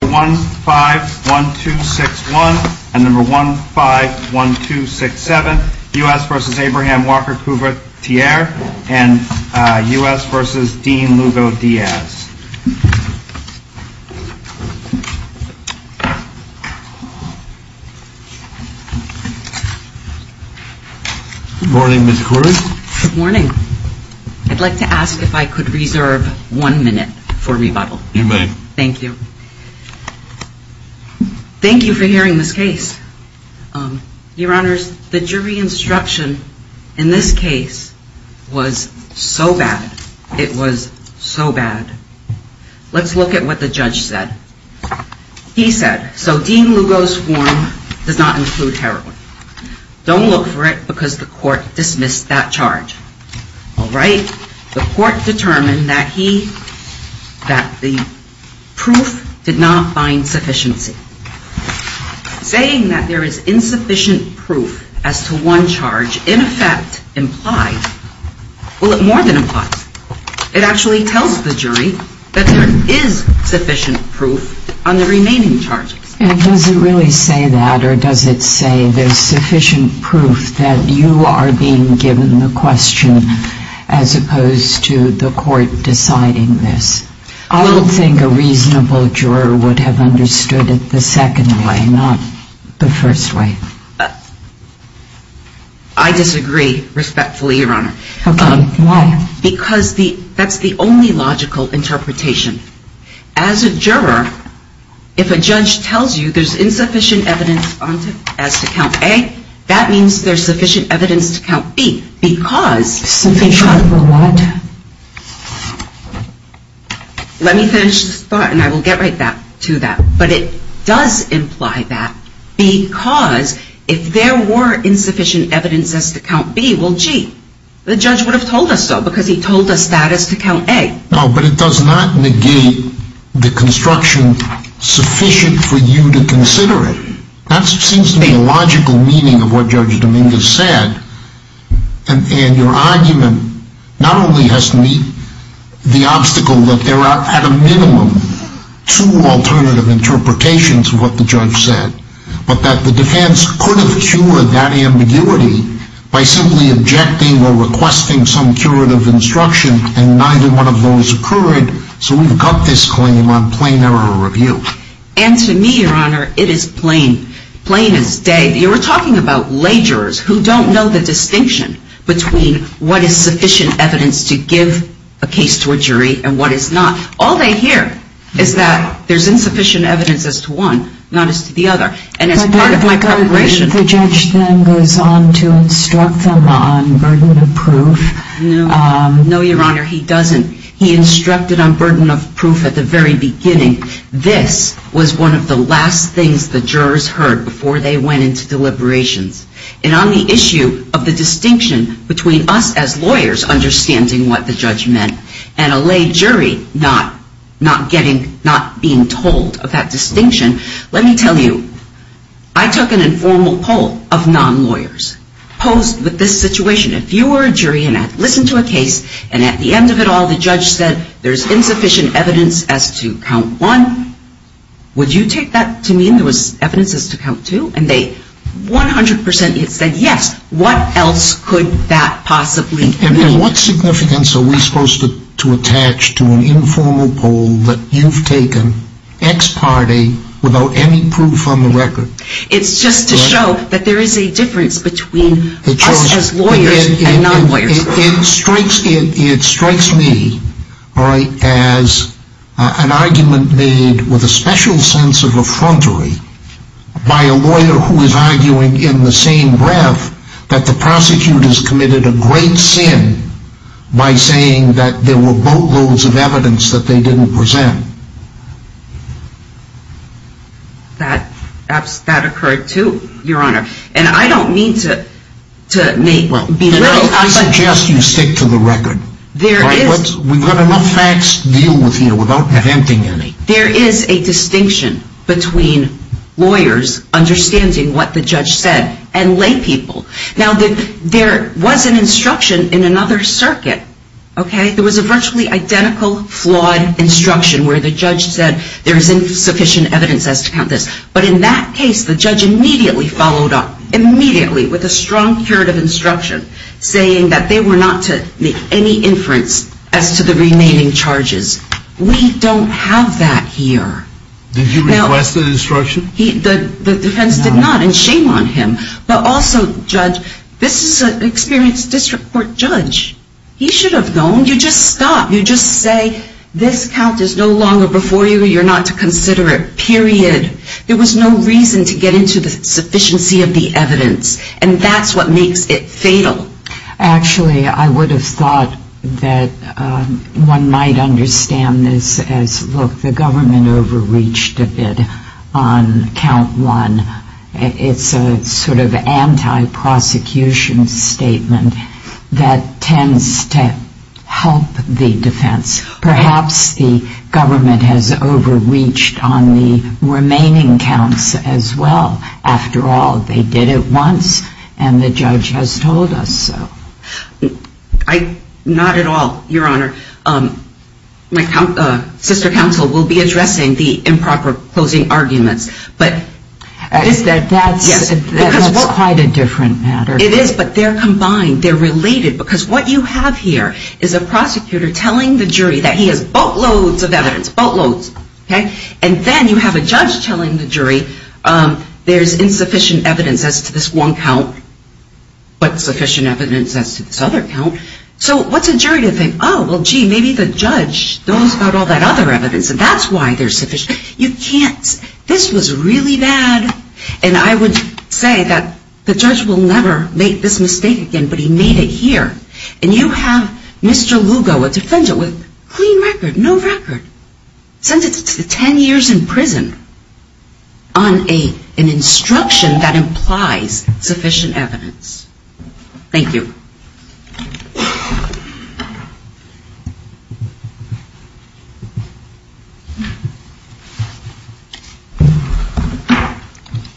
1-5-1-2-6-1 and 1-5-1-2-6-7 U.S. v. Abraham Walker-Couvertier and U.S. v. Dean Lugo-Diaz Good morning, Ms. Coors. Good morning. I'd like to ask if I could reserve one minute for rebuttal. You may. Thank you. Thank you for hearing this case. Your Honors, the jury instruction in this case was so bad. It was so bad. Let's look at what the judge said. He said, so Dean Lugo's form does not include heroin. Don't look for it because the court dismissed that charge. All right. The court determined that he, that the proof did not find sufficiency. Saying that there is insufficient proof as to one charge in effect implied, well, it more than implies. It actually tells the jury that there is sufficient proof on the remaining charges. And does it really say that or does it say there's sufficient proof that you are being given the question as opposed to the court deciding this? I don't think a reasonable juror would have understood it the second way, not the first way. I disagree respectfully, Your Honor. Why? Because that's the only logical interpretation. As a juror, if a judge tells you there's insufficient evidence as to count A, that means there's sufficient evidence to count B because Something's wrong with the law. Let me finish this thought and I will get right back to that. But it does imply that because if there were insufficient evidence as to count B, well, gee, the judge would have told us so because he told us that as to count A. No, but it does not negate the construction sufficient for you to consider it. That seems to me a logical meaning of what Judge Dominguez said. And your argument not only has to meet the obstacle that there are at a minimum two alternative interpretations of what the judge said, but that the defense could have cured that ambiguity by simply objecting or requesting some curative instruction and neither one of those occurred. So we've got this claim on plain error review. And to me, Your Honor, it is plain. Plain as day. You were talking about ledgers who don't know the distinction between what is sufficient evidence to give a case to a jury and what is not. All they hear is that there's insufficient evidence as to one, not as to the other. And as part of my preparation But the judge then goes on to instruct them on burden of proof. No, Your Honor, he doesn't. He instructed on burden of proof at the very beginning. This was one of the last things the jurors heard before they went into deliberations. And on the issue of the distinction between us as lawyers understanding what the judge meant and a lay jury not getting, not being told of that distinction, let me tell you, I took an informal poll of non-lawyers posed with this situation. If you were a jury and listened to a case and at the end of it all the judge said there's insufficient evidence as to count one, would you take that to mean there was evidence as to count two? And they 100% said yes. What else could that possibly mean? And what significance are we supposed to attach to an informal poll that you've taken ex parte without any proof on the record? It's just to show that there is a difference between us as lawyers and non-lawyers. It strikes me as an argument made with a special sense of effrontery by a lawyer who is arguing in the same breath that the prosecutor has committed a great sin by saying that there were boatloads of evidence that they didn't present. That occurred too, Your Honor. And I don't mean to be a little... I suggest you stick to the record. There is... We've got enough facts to deal with here without presenting any. There is a distinction between lawyers understanding what the judge said and lay people. Now there was an instruction in another circuit, okay? There was a virtually identical flawed instruction where the judge said there is insufficient evidence as to count this. But in that case, the judge immediately followed up, immediately, with a strong curative instruction saying that they were not to make any inference as to the remaining charges. We don't have that here. Did he request an instruction? The defense did not, and shame on him. But also, Judge, this is an experienced district court judge. He should have known. You just stop. You just say this count is no longer before you. You're not to consider it, period. There was no reason to get into the sufficiency of the evidence. And that's what makes it fatal. Actually, I would have thought that one might understand this as, look, the government overreached a bit on count one. It's a sort of anti-prosecution statement that tends to help the defense. Perhaps the government has overreached on the remaining counts as well. After all, they did it once, and the judge has told us so. Not at all, Your Honor. My sister counsel will be addressing the improper closing arguments. That's quite a different matter. It is, but they're combined. They're related. Because what you have here is a prosecutor telling the jury that he has boatloads of evidence, boatloads. And then you have a judge telling the jury there's insufficient evidence as to this one count, but sufficient evidence as to this other count. So what's a jury to think, oh, well, gee, maybe the judge knows about all that other evidence, and that's why there's sufficient. This was really bad, and I would say that the judge will never make this mistake again, but he made it here. And you have Mr. Lugo, a defendant with clean record, no record, sentenced to 10 years in prison on an instruction that implies sufficient evidence. Thank you.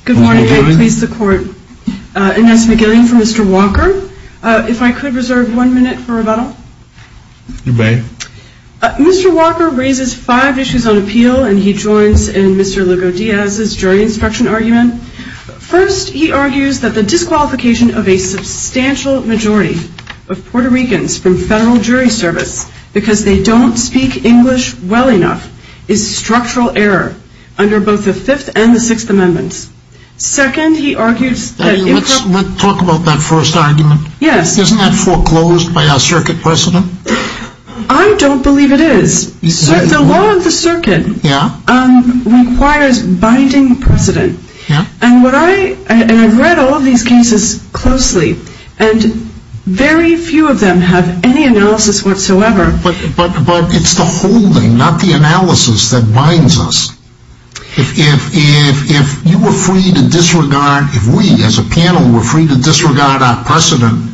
Good morning. Good morning. Please support Inez McGillian for Mr. Walker. If I could reserve one minute for rebuttal. You may. Mr. Walker raises five issues on appeal, and he joins in Mr. Lugo-Diaz's jury instruction argument. First, he argues that the disqualification of a substantial majority of Puerto Ricans from federal jury service because they don't speak English well enough is structural error under both the Fifth and the Sixth Amendments. Second, he argues that if the ---- Let's talk about that first argument. Yes. Isn't that foreclosed by our circuit precedent? I don't believe it is. The law of the circuit requires binding precedent. Yeah. And I've read all of these cases closely, and very few of them have any analysis whatsoever. But it's the holding, not the analysis, that binds us. If you were free to disregard, if we as a panel were free to disregard our precedent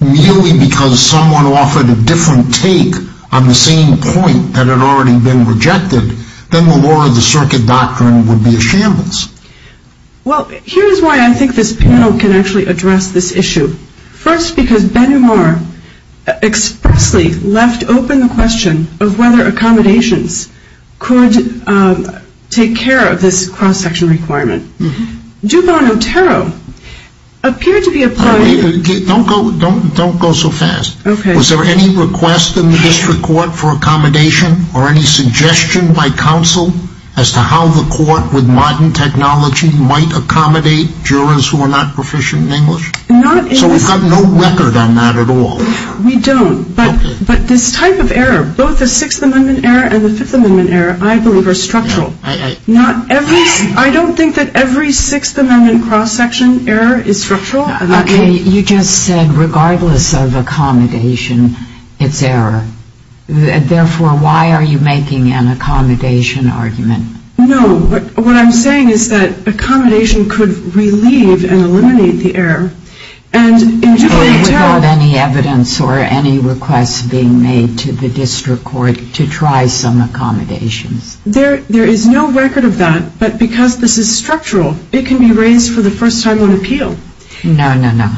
merely because someone offered a different take on the same point that had already been rejected, then the law of the circuit doctrine would be a shambles. Well, here's why I think this panel can actually address this issue. First, because Ben-Humar expressly left open the question of whether accommodations could take care of this cross-sectional requirement. DuPont-Otero appeared to be applying ---- Don't go so fast. Okay. Was there any request in the district court for accommodation or any suggestion by counsel as to how the court with modern technology might accommodate jurors who are not proficient in English? So we have no record on that at all? We don't. But this type of error, both the Sixth Amendment error and the Fifth Amendment error, I believe are structural. I don't think that every Sixth Amendment cross-section error is structural. Okay. You just said regardless of accommodation, it's error. Therefore, why are you making an accommodation argument? No. What I'm saying is that accommodation could relieve and eliminate the error. And in DuPont-Otero ---- And without any evidence or any requests being made to the district court to try some accommodations. There is no record of that. But because this is structural, it can be raised for the first time on appeal. No, no, no.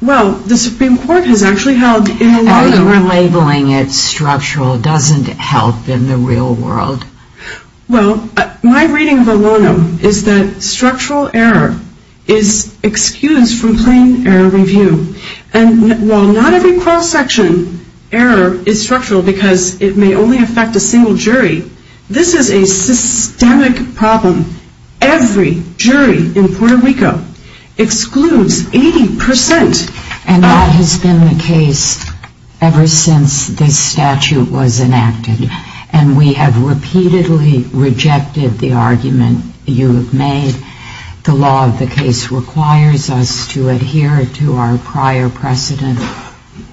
Well, the Supreme Court has actually held in the larger ---- And your labeling it structural doesn't help in the real world. Well, my reading of a lono is that structural error is excused from plain error review. And while not every cross-section error is structural because it may only affect a single jury, this is a systemic problem. Every jury in Puerto Rico excludes 80 percent. And that has been the case ever since this statute was enacted. And we have repeatedly rejected the argument you have made. The law of the case requires us to adhere to our prior precedent.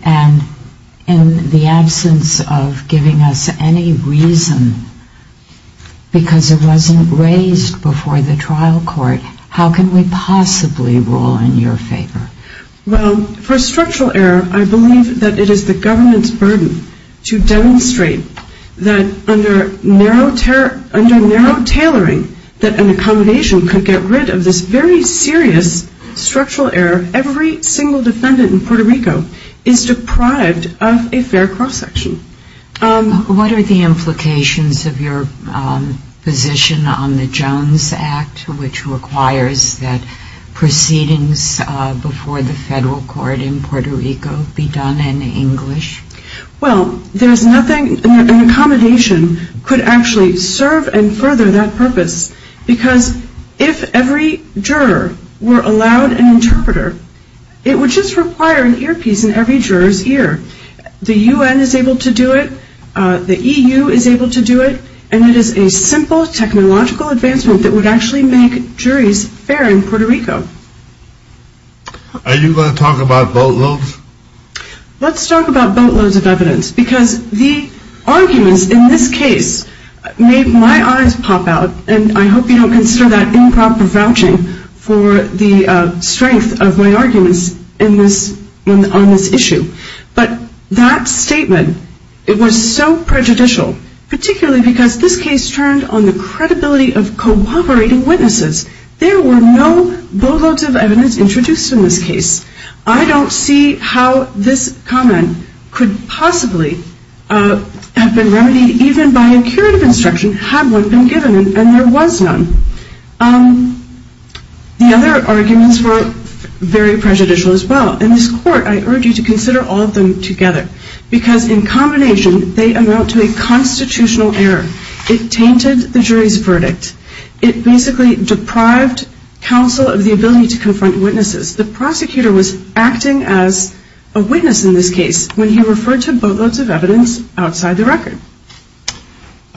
And in the absence of giving us any reason because it wasn't raised before the trial court, how can we possibly rule in your favor? Well, for structural error, I believe that it is the government's duty to demonstrate that under narrow tailoring that an accommodation could get rid of this very serious structural error, every single defendant in Puerto Rico is deprived of a fair cross-section. What are the implications of your position on the Jones Act, which requires that proceedings before the federal court in Puerto Rico be done in English? Well, an accommodation could actually serve and further that purpose because if every juror were allowed an interpreter, it would just require an earpiece in every juror's ear. The U.N. is able to do it. The E.U. is able to do it. And it is a simple technological advancement that would actually make juries fair in Puerto Rico. Are you going to talk about boatloads? Let's talk about boatloads of evidence because the arguments in this case made my eyes pop out, and I hope you don't consider that improper vouching for the strength of my arguments on this issue. But that statement, it was so prejudicial, particularly because this case turned on the credibility of cooperating witnesses. There were no boatloads of evidence introduced in this case. I don't see how this comment could possibly have been remedied even by a curative instruction had one been given, and there was none. The other arguments were very prejudicial as well. In this court, I urge you to consider all of them together because in combination they amount to a constitutional error. It tainted the jury's verdict. It basically deprived counsel of the ability to confront witnesses. The prosecutor was acting as a witness in this case when he referred to boatloads of evidence outside the record.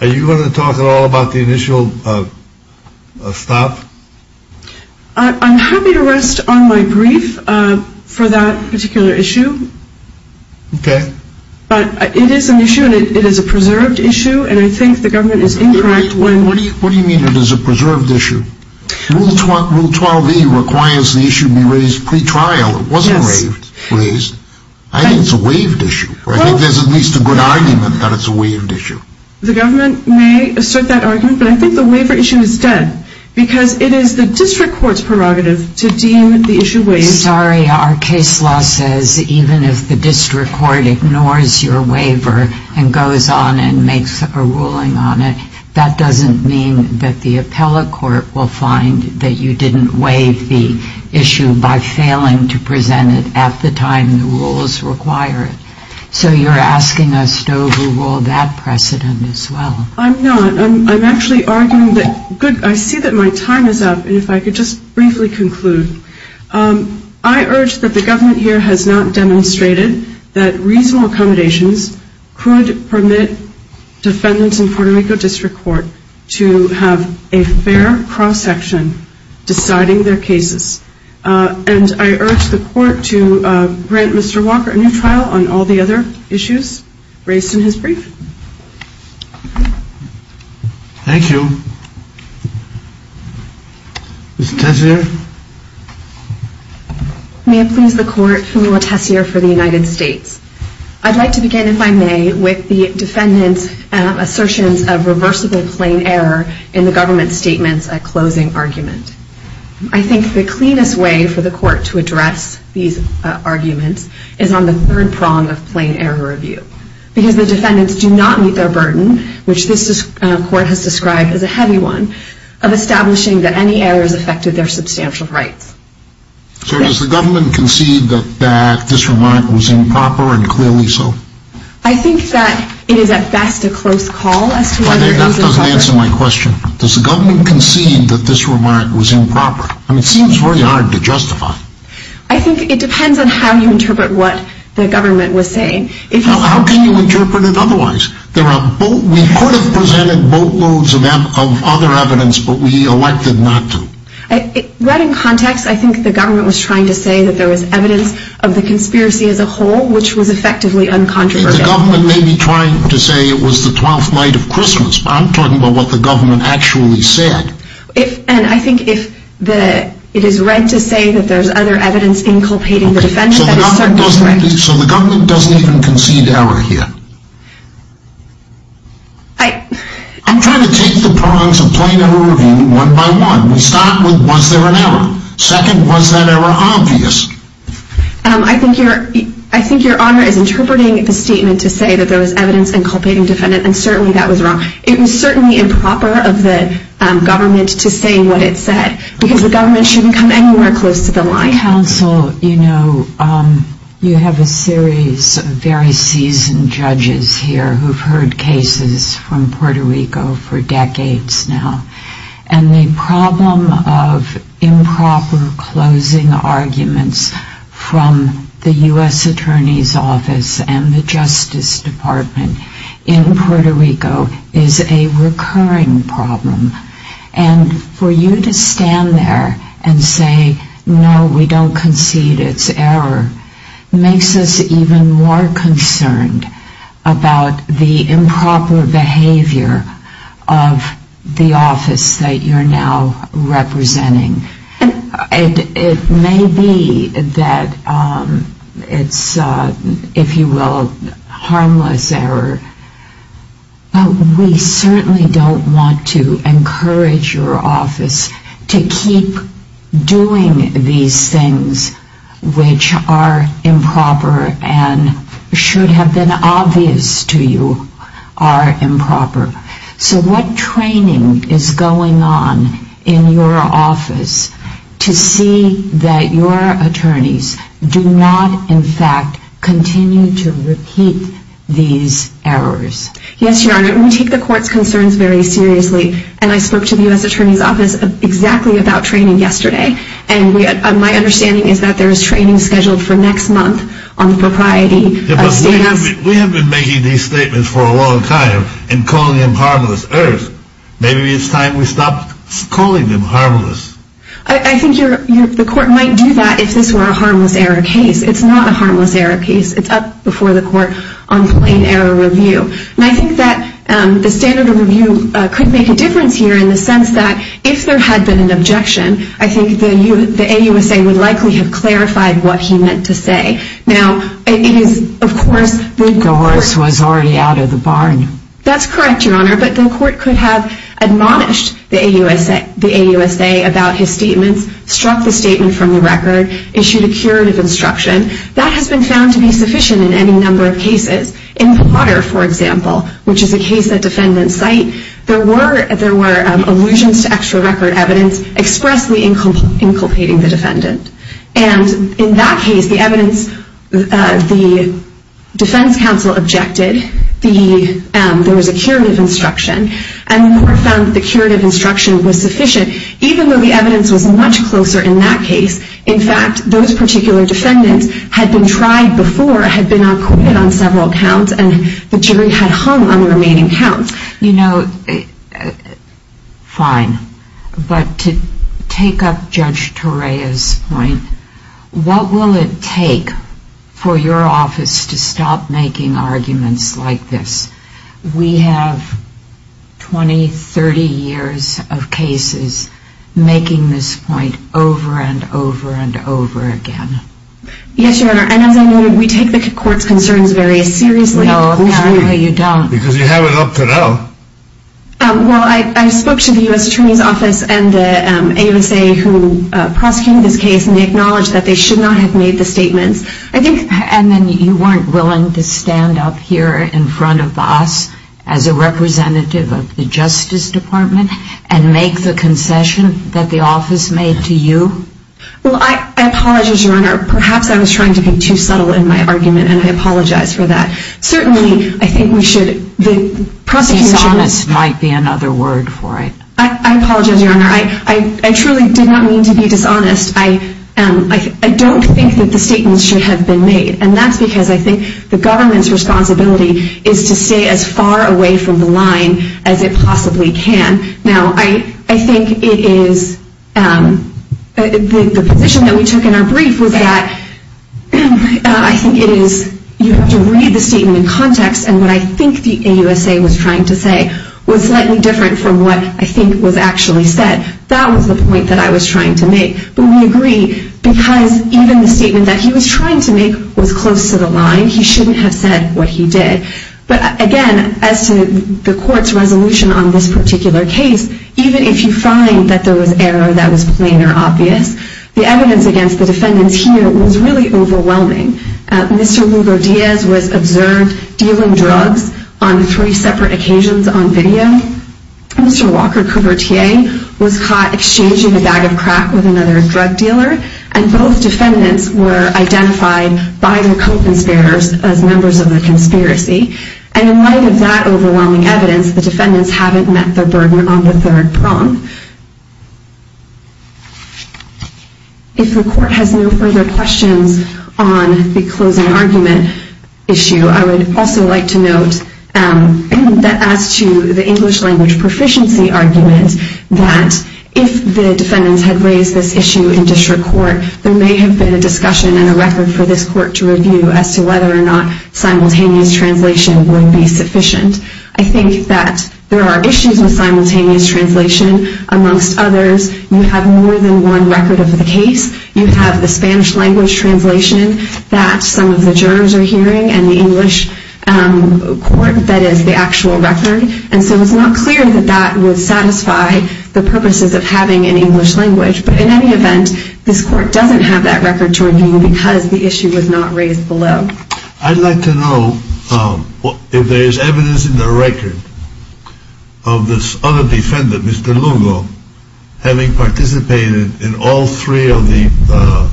Are you going to talk at all about the initial stop? I'm happy to rest on my brief for that particular issue. Okay. But it is an issue, and it is a preserved issue, and I think the government is incorrect when... What do you mean it is a preserved issue? Rule 12E requires the issue be raised pre-trial. It wasn't raised. I think it's a waived issue, or I think there's at least a good argument that it's a waived issue. The government may assert that argument, but I think the waiver issue is dead because it is the district court's prerogative to deem the issue waived. Sorry, our case law says even if the district court ignores your waiver and goes on and makes a ruling on it, that doesn't mean that the appellate court will find that you didn't waive the issue by failing to present it at the time the rules require it. So you're asking us to overrule that precedent as well. I'm not. I'm actually arguing that... I see that my time is up, and if I could just briefly conclude. I urge that the government here has not demonstrated that reasonable accommodations could permit defendants in Puerto Rico District Court to have a fair cross-section deciding their cases. And I urge the court to grant Mr. Walker a new trial on all the other issues raised in his brief. Thank you. Ms. Tessier? May it please the court, Phumala Tessier for the United States. I'd like to begin, if I may, with the defendant's assertions of reversible plain error in the government's statements at closing argument. I think the cleanest way for the court to address these arguments is on the third prong of plain error review, because the defendants do not meet their burden, which this court has described as a heavy one, of establishing that any errors affected their substantial rights. So does the government concede that this remark was improper, and clearly so? I think that it is at best a close call as to whether... That doesn't answer my question. Does the government concede that this remark was improper? I mean, it seems very hard to justify. I think it depends on how you interpret what the government was saying. How can you interpret it otherwise? We could have presented boatloads of other evidence, but we elected not to. Right in context, I think the government was trying to say that there was evidence of the conspiracy as a whole, which was effectively uncontroversial. The government may be trying to say it was the twelfth night of Christmas, but I'm talking about what the government actually said. And I think if it is right to say that there's other evidence inculpating the defendant, that is certainly correct. So the government doesn't even concede error here? I'm trying to take the prongs of plain error review one by one. We start with, was there an error? Second, was that error obvious? I think Your Honor is interpreting the statement to say that there was evidence inculpating the defendant, and certainly that was wrong. It was certainly improper of the government to say what it said, because the government shouldn't come anywhere close to the line. Counsel, you know, you have a series of very seasoned judges here who have heard cases from Puerto Rico for decades now. And the problem of improper closing arguments from the U.S. Attorney's Office and the Justice Department in Puerto Rico is a recurring problem. And for you to stand there and say, no, we don't concede it's error, makes us even more concerned about the improper behavior of the office that you're now representing. It may be that it's, if you will, harmless error, but we certainly don't want to encourage your office to keep doing these things which are improper and should have been obvious to you are improper. So what training is going on in your office to see that your attorneys do not, in fact, continue to repeat these errors? Yes, Your Honor. We take the court's concerns very seriously. And I spoke to the U.S. Attorney's Office exactly about training yesterday. And my understanding is that there is training scheduled for next month on the propriety of status. We have been making these statements for a long time and calling them harmless errors. Maybe it's time we stopped calling them harmless. I think the court might do that if this were a harmless error case. It's not a harmless error case. It's up before the court on plain error review. And I think that the standard of review could make a difference here in the sense that if there had been an objection, I think the AUSA would likely have clarified what he meant to say. Now, it is, of course, the court. The horse was already out of the barn. That's correct, Your Honor. But the court could have admonished the AUSA about his statements, struck the statement from the record, issued a curative instruction. That has been found to be sufficient in any number of cases. In Potter, for example, which is a case at defendant's site, there were allusions to extra record evidence expressly inculpating the defendant. And in that case, the evidence, the defense counsel objected. There was a curative instruction. And the court found that the curative instruction was sufficient, even though the evidence was much closer in that case. In fact, those particular defendants had been tried before, had been acquitted on several counts, and the jury had hung on the remaining counts. You know, fine. But to take up Judge Torea's point, what will it take for your office to stop making arguments like this? We have 20, 30 years of cases making this point over and over and over again. Yes, Your Honor. And as I noted, we take the court's concerns very seriously. No, apparently you don't. Because you have it up to now. Well, I spoke to the U.S. Attorney's Office and the AUSA who prosecuted this case, and they acknowledged that they should not have made the statements. And then you weren't willing to stand up here in front of us as a representative of the Justice Department and make the concession that the office made to you? Well, I apologize, Your Honor. Perhaps I was trying to be too subtle in my argument, and I apologize for that. Certainly, I think we should. Dishonest might be another word for it. I apologize, Your Honor. I truly did not mean to be dishonest. I don't think that the statements should have been made. And that's because I think the government's responsibility is to stay as far away from the line as it possibly can. Now, I think it is the position that we took in our brief was that I think it is you have to read the statement in context. And what I think the AUSA was trying to say was slightly different from what I think was actually said. That was the point that I was trying to make. But we agree because even the statement that he was trying to make was close to the line. He shouldn't have said what he did. But, again, as to the court's resolution on this particular case, even if you find that there was error that was plain or obvious, the evidence against the defendants here was really overwhelming. Mr. Lugo-Diaz was observed dealing drugs on three separate occasions on video. Mr. Walker-Couvertier was caught exchanging a bag of crack with another drug dealer. And both defendants were identified by their co-conspirators as members of the conspiracy. And in light of that overwhelming evidence, the defendants haven't met their burden on the third prong. If the court has no further questions on the closing argument issue, I would also like to note that as to the English language proficiency argument, that if the defendants had raised this issue in district court, there may have been a discussion and a record for this court to review as to whether or not simultaneous translation would be sufficient. I think that there are issues with simultaneous translation. Amongst others, you have more than one record of the case. You have the Spanish language translation that some of the jurors are using. You have the English court that is the actual record. And so it's not clear that that would satisfy the purposes of having an English language. But in any event, this court doesn't have that record to review because the issue was not raised below. I'd like to know if there is evidence in the record of this other defendant, Mr. Lugo, having participated in all three of the...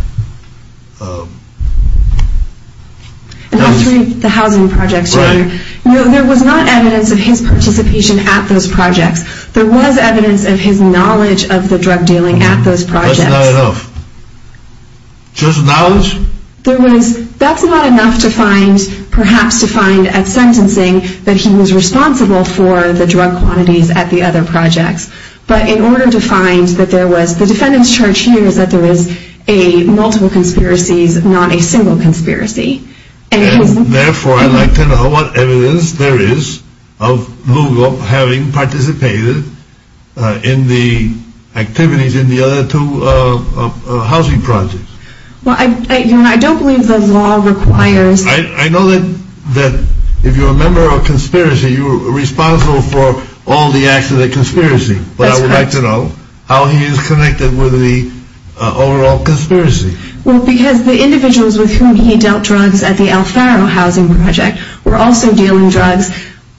All three of the housing projects, Your Honor. Right. There was not evidence of his participation at those projects. There was evidence of his knowledge of the drug dealing at those projects. That's not enough. Just knowledge? That's not enough to find, perhaps to find at sentencing, that he was responsible for the drug quantities at the other projects. But in order to find that there was... The defendant's charge here is that there was multiple conspiracies, not a Therefore, I'd like to know what evidence there is of Lugo having participated in the activities in the other two housing projects. Well, Your Honor, I don't believe the law requires... I know that if you're a member of a conspiracy, you're responsible for all the acts of the conspiracy. That's correct. But I would like to know how he is connected with the overall conspiracy. Well, because the individuals with whom he dealt drugs at the El Faro housing project were also dealing drugs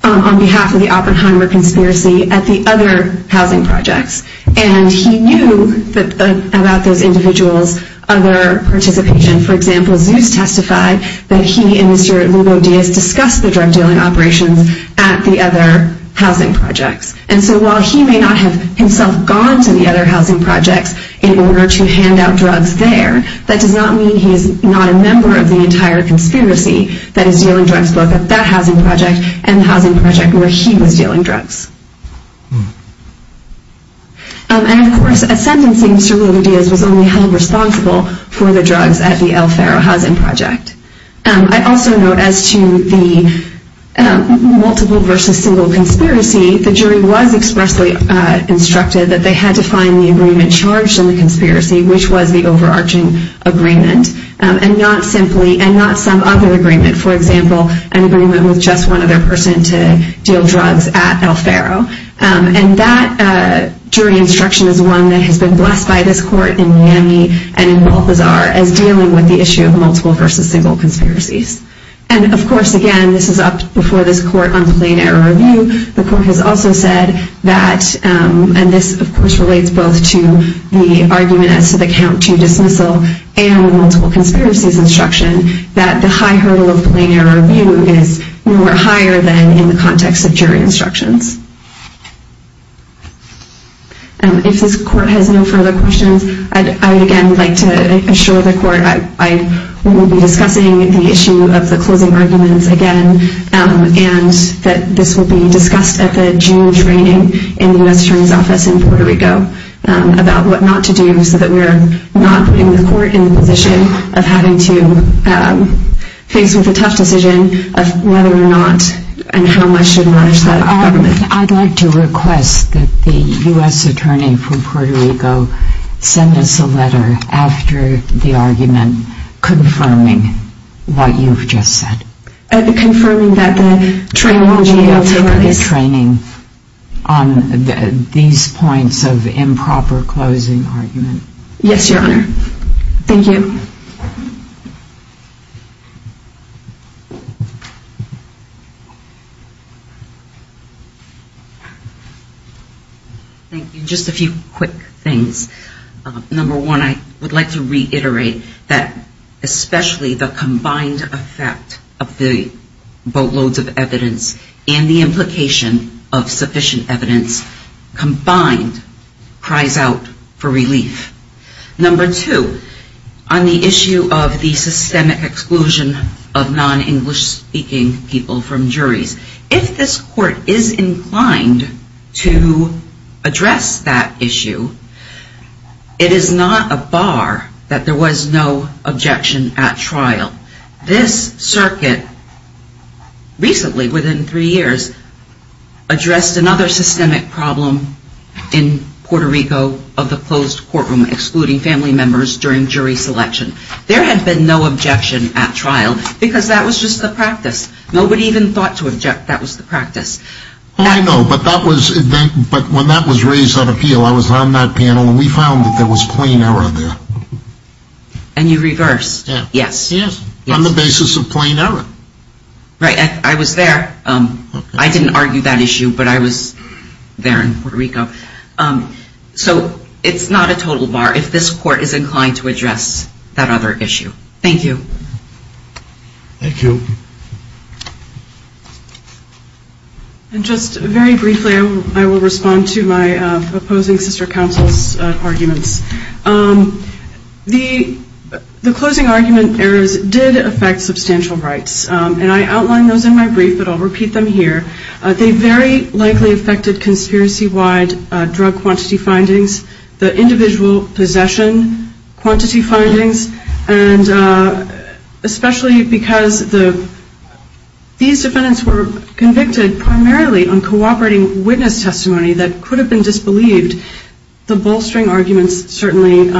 on behalf of the Oppenheimer conspiracy at the other housing projects. And he knew about those individuals' other participation. For example, Zeus testified that he and Mr. Lugo Diaz discussed the drug dealing operations at the other housing projects. And so while he may not have himself gone to the other housing projects in particular, that does not mean he is not a member of the entire conspiracy that is dealing drugs both at that housing project and the housing project where he was dealing drugs. And, of course, a sentencing to Lugo Diaz was only held responsible for the drugs at the El Faro housing project. I also note as to the multiple versus single conspiracy, the jury was expressly instructed that they had to find the agreement charged in the agreement, and not some other agreement. For example, an agreement with just one other person to deal drugs at El Faro. And that jury instruction is one that has been blessed by this court in Miami and in Balthazar as dealing with the issue of multiple versus single conspiracies. And, of course, again, this is up before this court on plain error review. The court has also said that, and this, of course, relates both to the argument as to the count to dismissal and the multiple conspiracies instruction, that the high hurdle of plain error review is nowhere higher than in the context of jury instructions. If this court has no further questions, I would, again, like to assure the court I will be discussing the issue of the closing arguments again, and that this will be discussed at the June training in the U.S. Attorney's Office in Puerto Rico about what not to do so that we're not putting the court in the position of having to face with a tough decision of whether or not and how much should merge that government. I'd like to request that the U.S. Attorney from Puerto Rico send us a letter after the argument confirming what you've just said. Confirming that the training on these points of improper closing argument. Yes, Your Honor. Thank you. Thank you. Just a few quick things. Number one, I would like to reiterate that especially the combined effect of the boatloads of evidence and the implication of sufficient evidence combined cries out for relief. Number two, on the issue of the systemic exclusion of non-English speaking people from juries, if this court is inclined to address that issue, it is not a bar that there was no objection at trial. This circuit recently, within three years, addressed another systemic problem in Puerto Rico of the closed courtroom excluding family members during jury selection. There had been no objection at trial because that was just the practice. Nobody even thought to object that was the practice. I know, but when that was raised on appeal, I was on that panel and we found that there was plain error there. And you reversed. Yes. On the basis of plain error. Right. I didn't argue that issue, but I was there in Puerto Rico. So it's not a total bar if this court is inclined to address that other issue. Thank you. Thank you. And just very briefly, I will respond to my opposing sister counsel's arguments. The closing argument errors did affect substantial rights. And I outlined those in my brief, but I'll repeat them here. They very likely affected conspiracy-wide drug quantity findings, the individual possession quantity findings, and especially because these defendants were convicted primarily on cooperating witness testimony that could have been disbelieved. The bolstering arguments certainly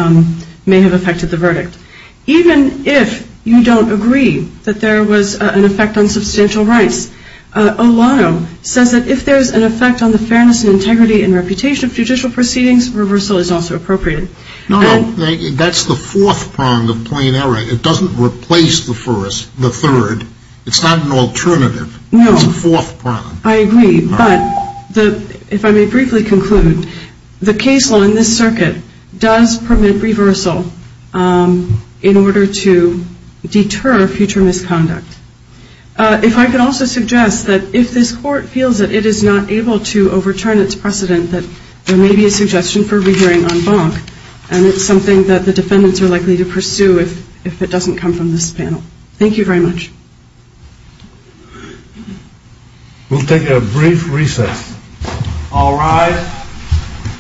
may have affected the verdict. Even if you don't agree that there was an effect on substantial rights, Olano says that if there's an effect on the fairness and integrity and reputation of judicial proceedings, reversal is also appropriate. That's the fourth prong of plain error. It doesn't replace the third. It's not an alternative. No. It's the fourth prong. I agree. But if I may briefly conclude, the case law in this circuit does permit reversal in order to deter future misconduct. If I could also suggest that if this court feels that it is not able to overturn its precedent, that there may be a suggestion for rehearing en banc, and it's something that the defendants are likely to pursue if it doesn't come from this panel. Thank you very much. We'll take a brief recess. All rise. Thank you. Thank you.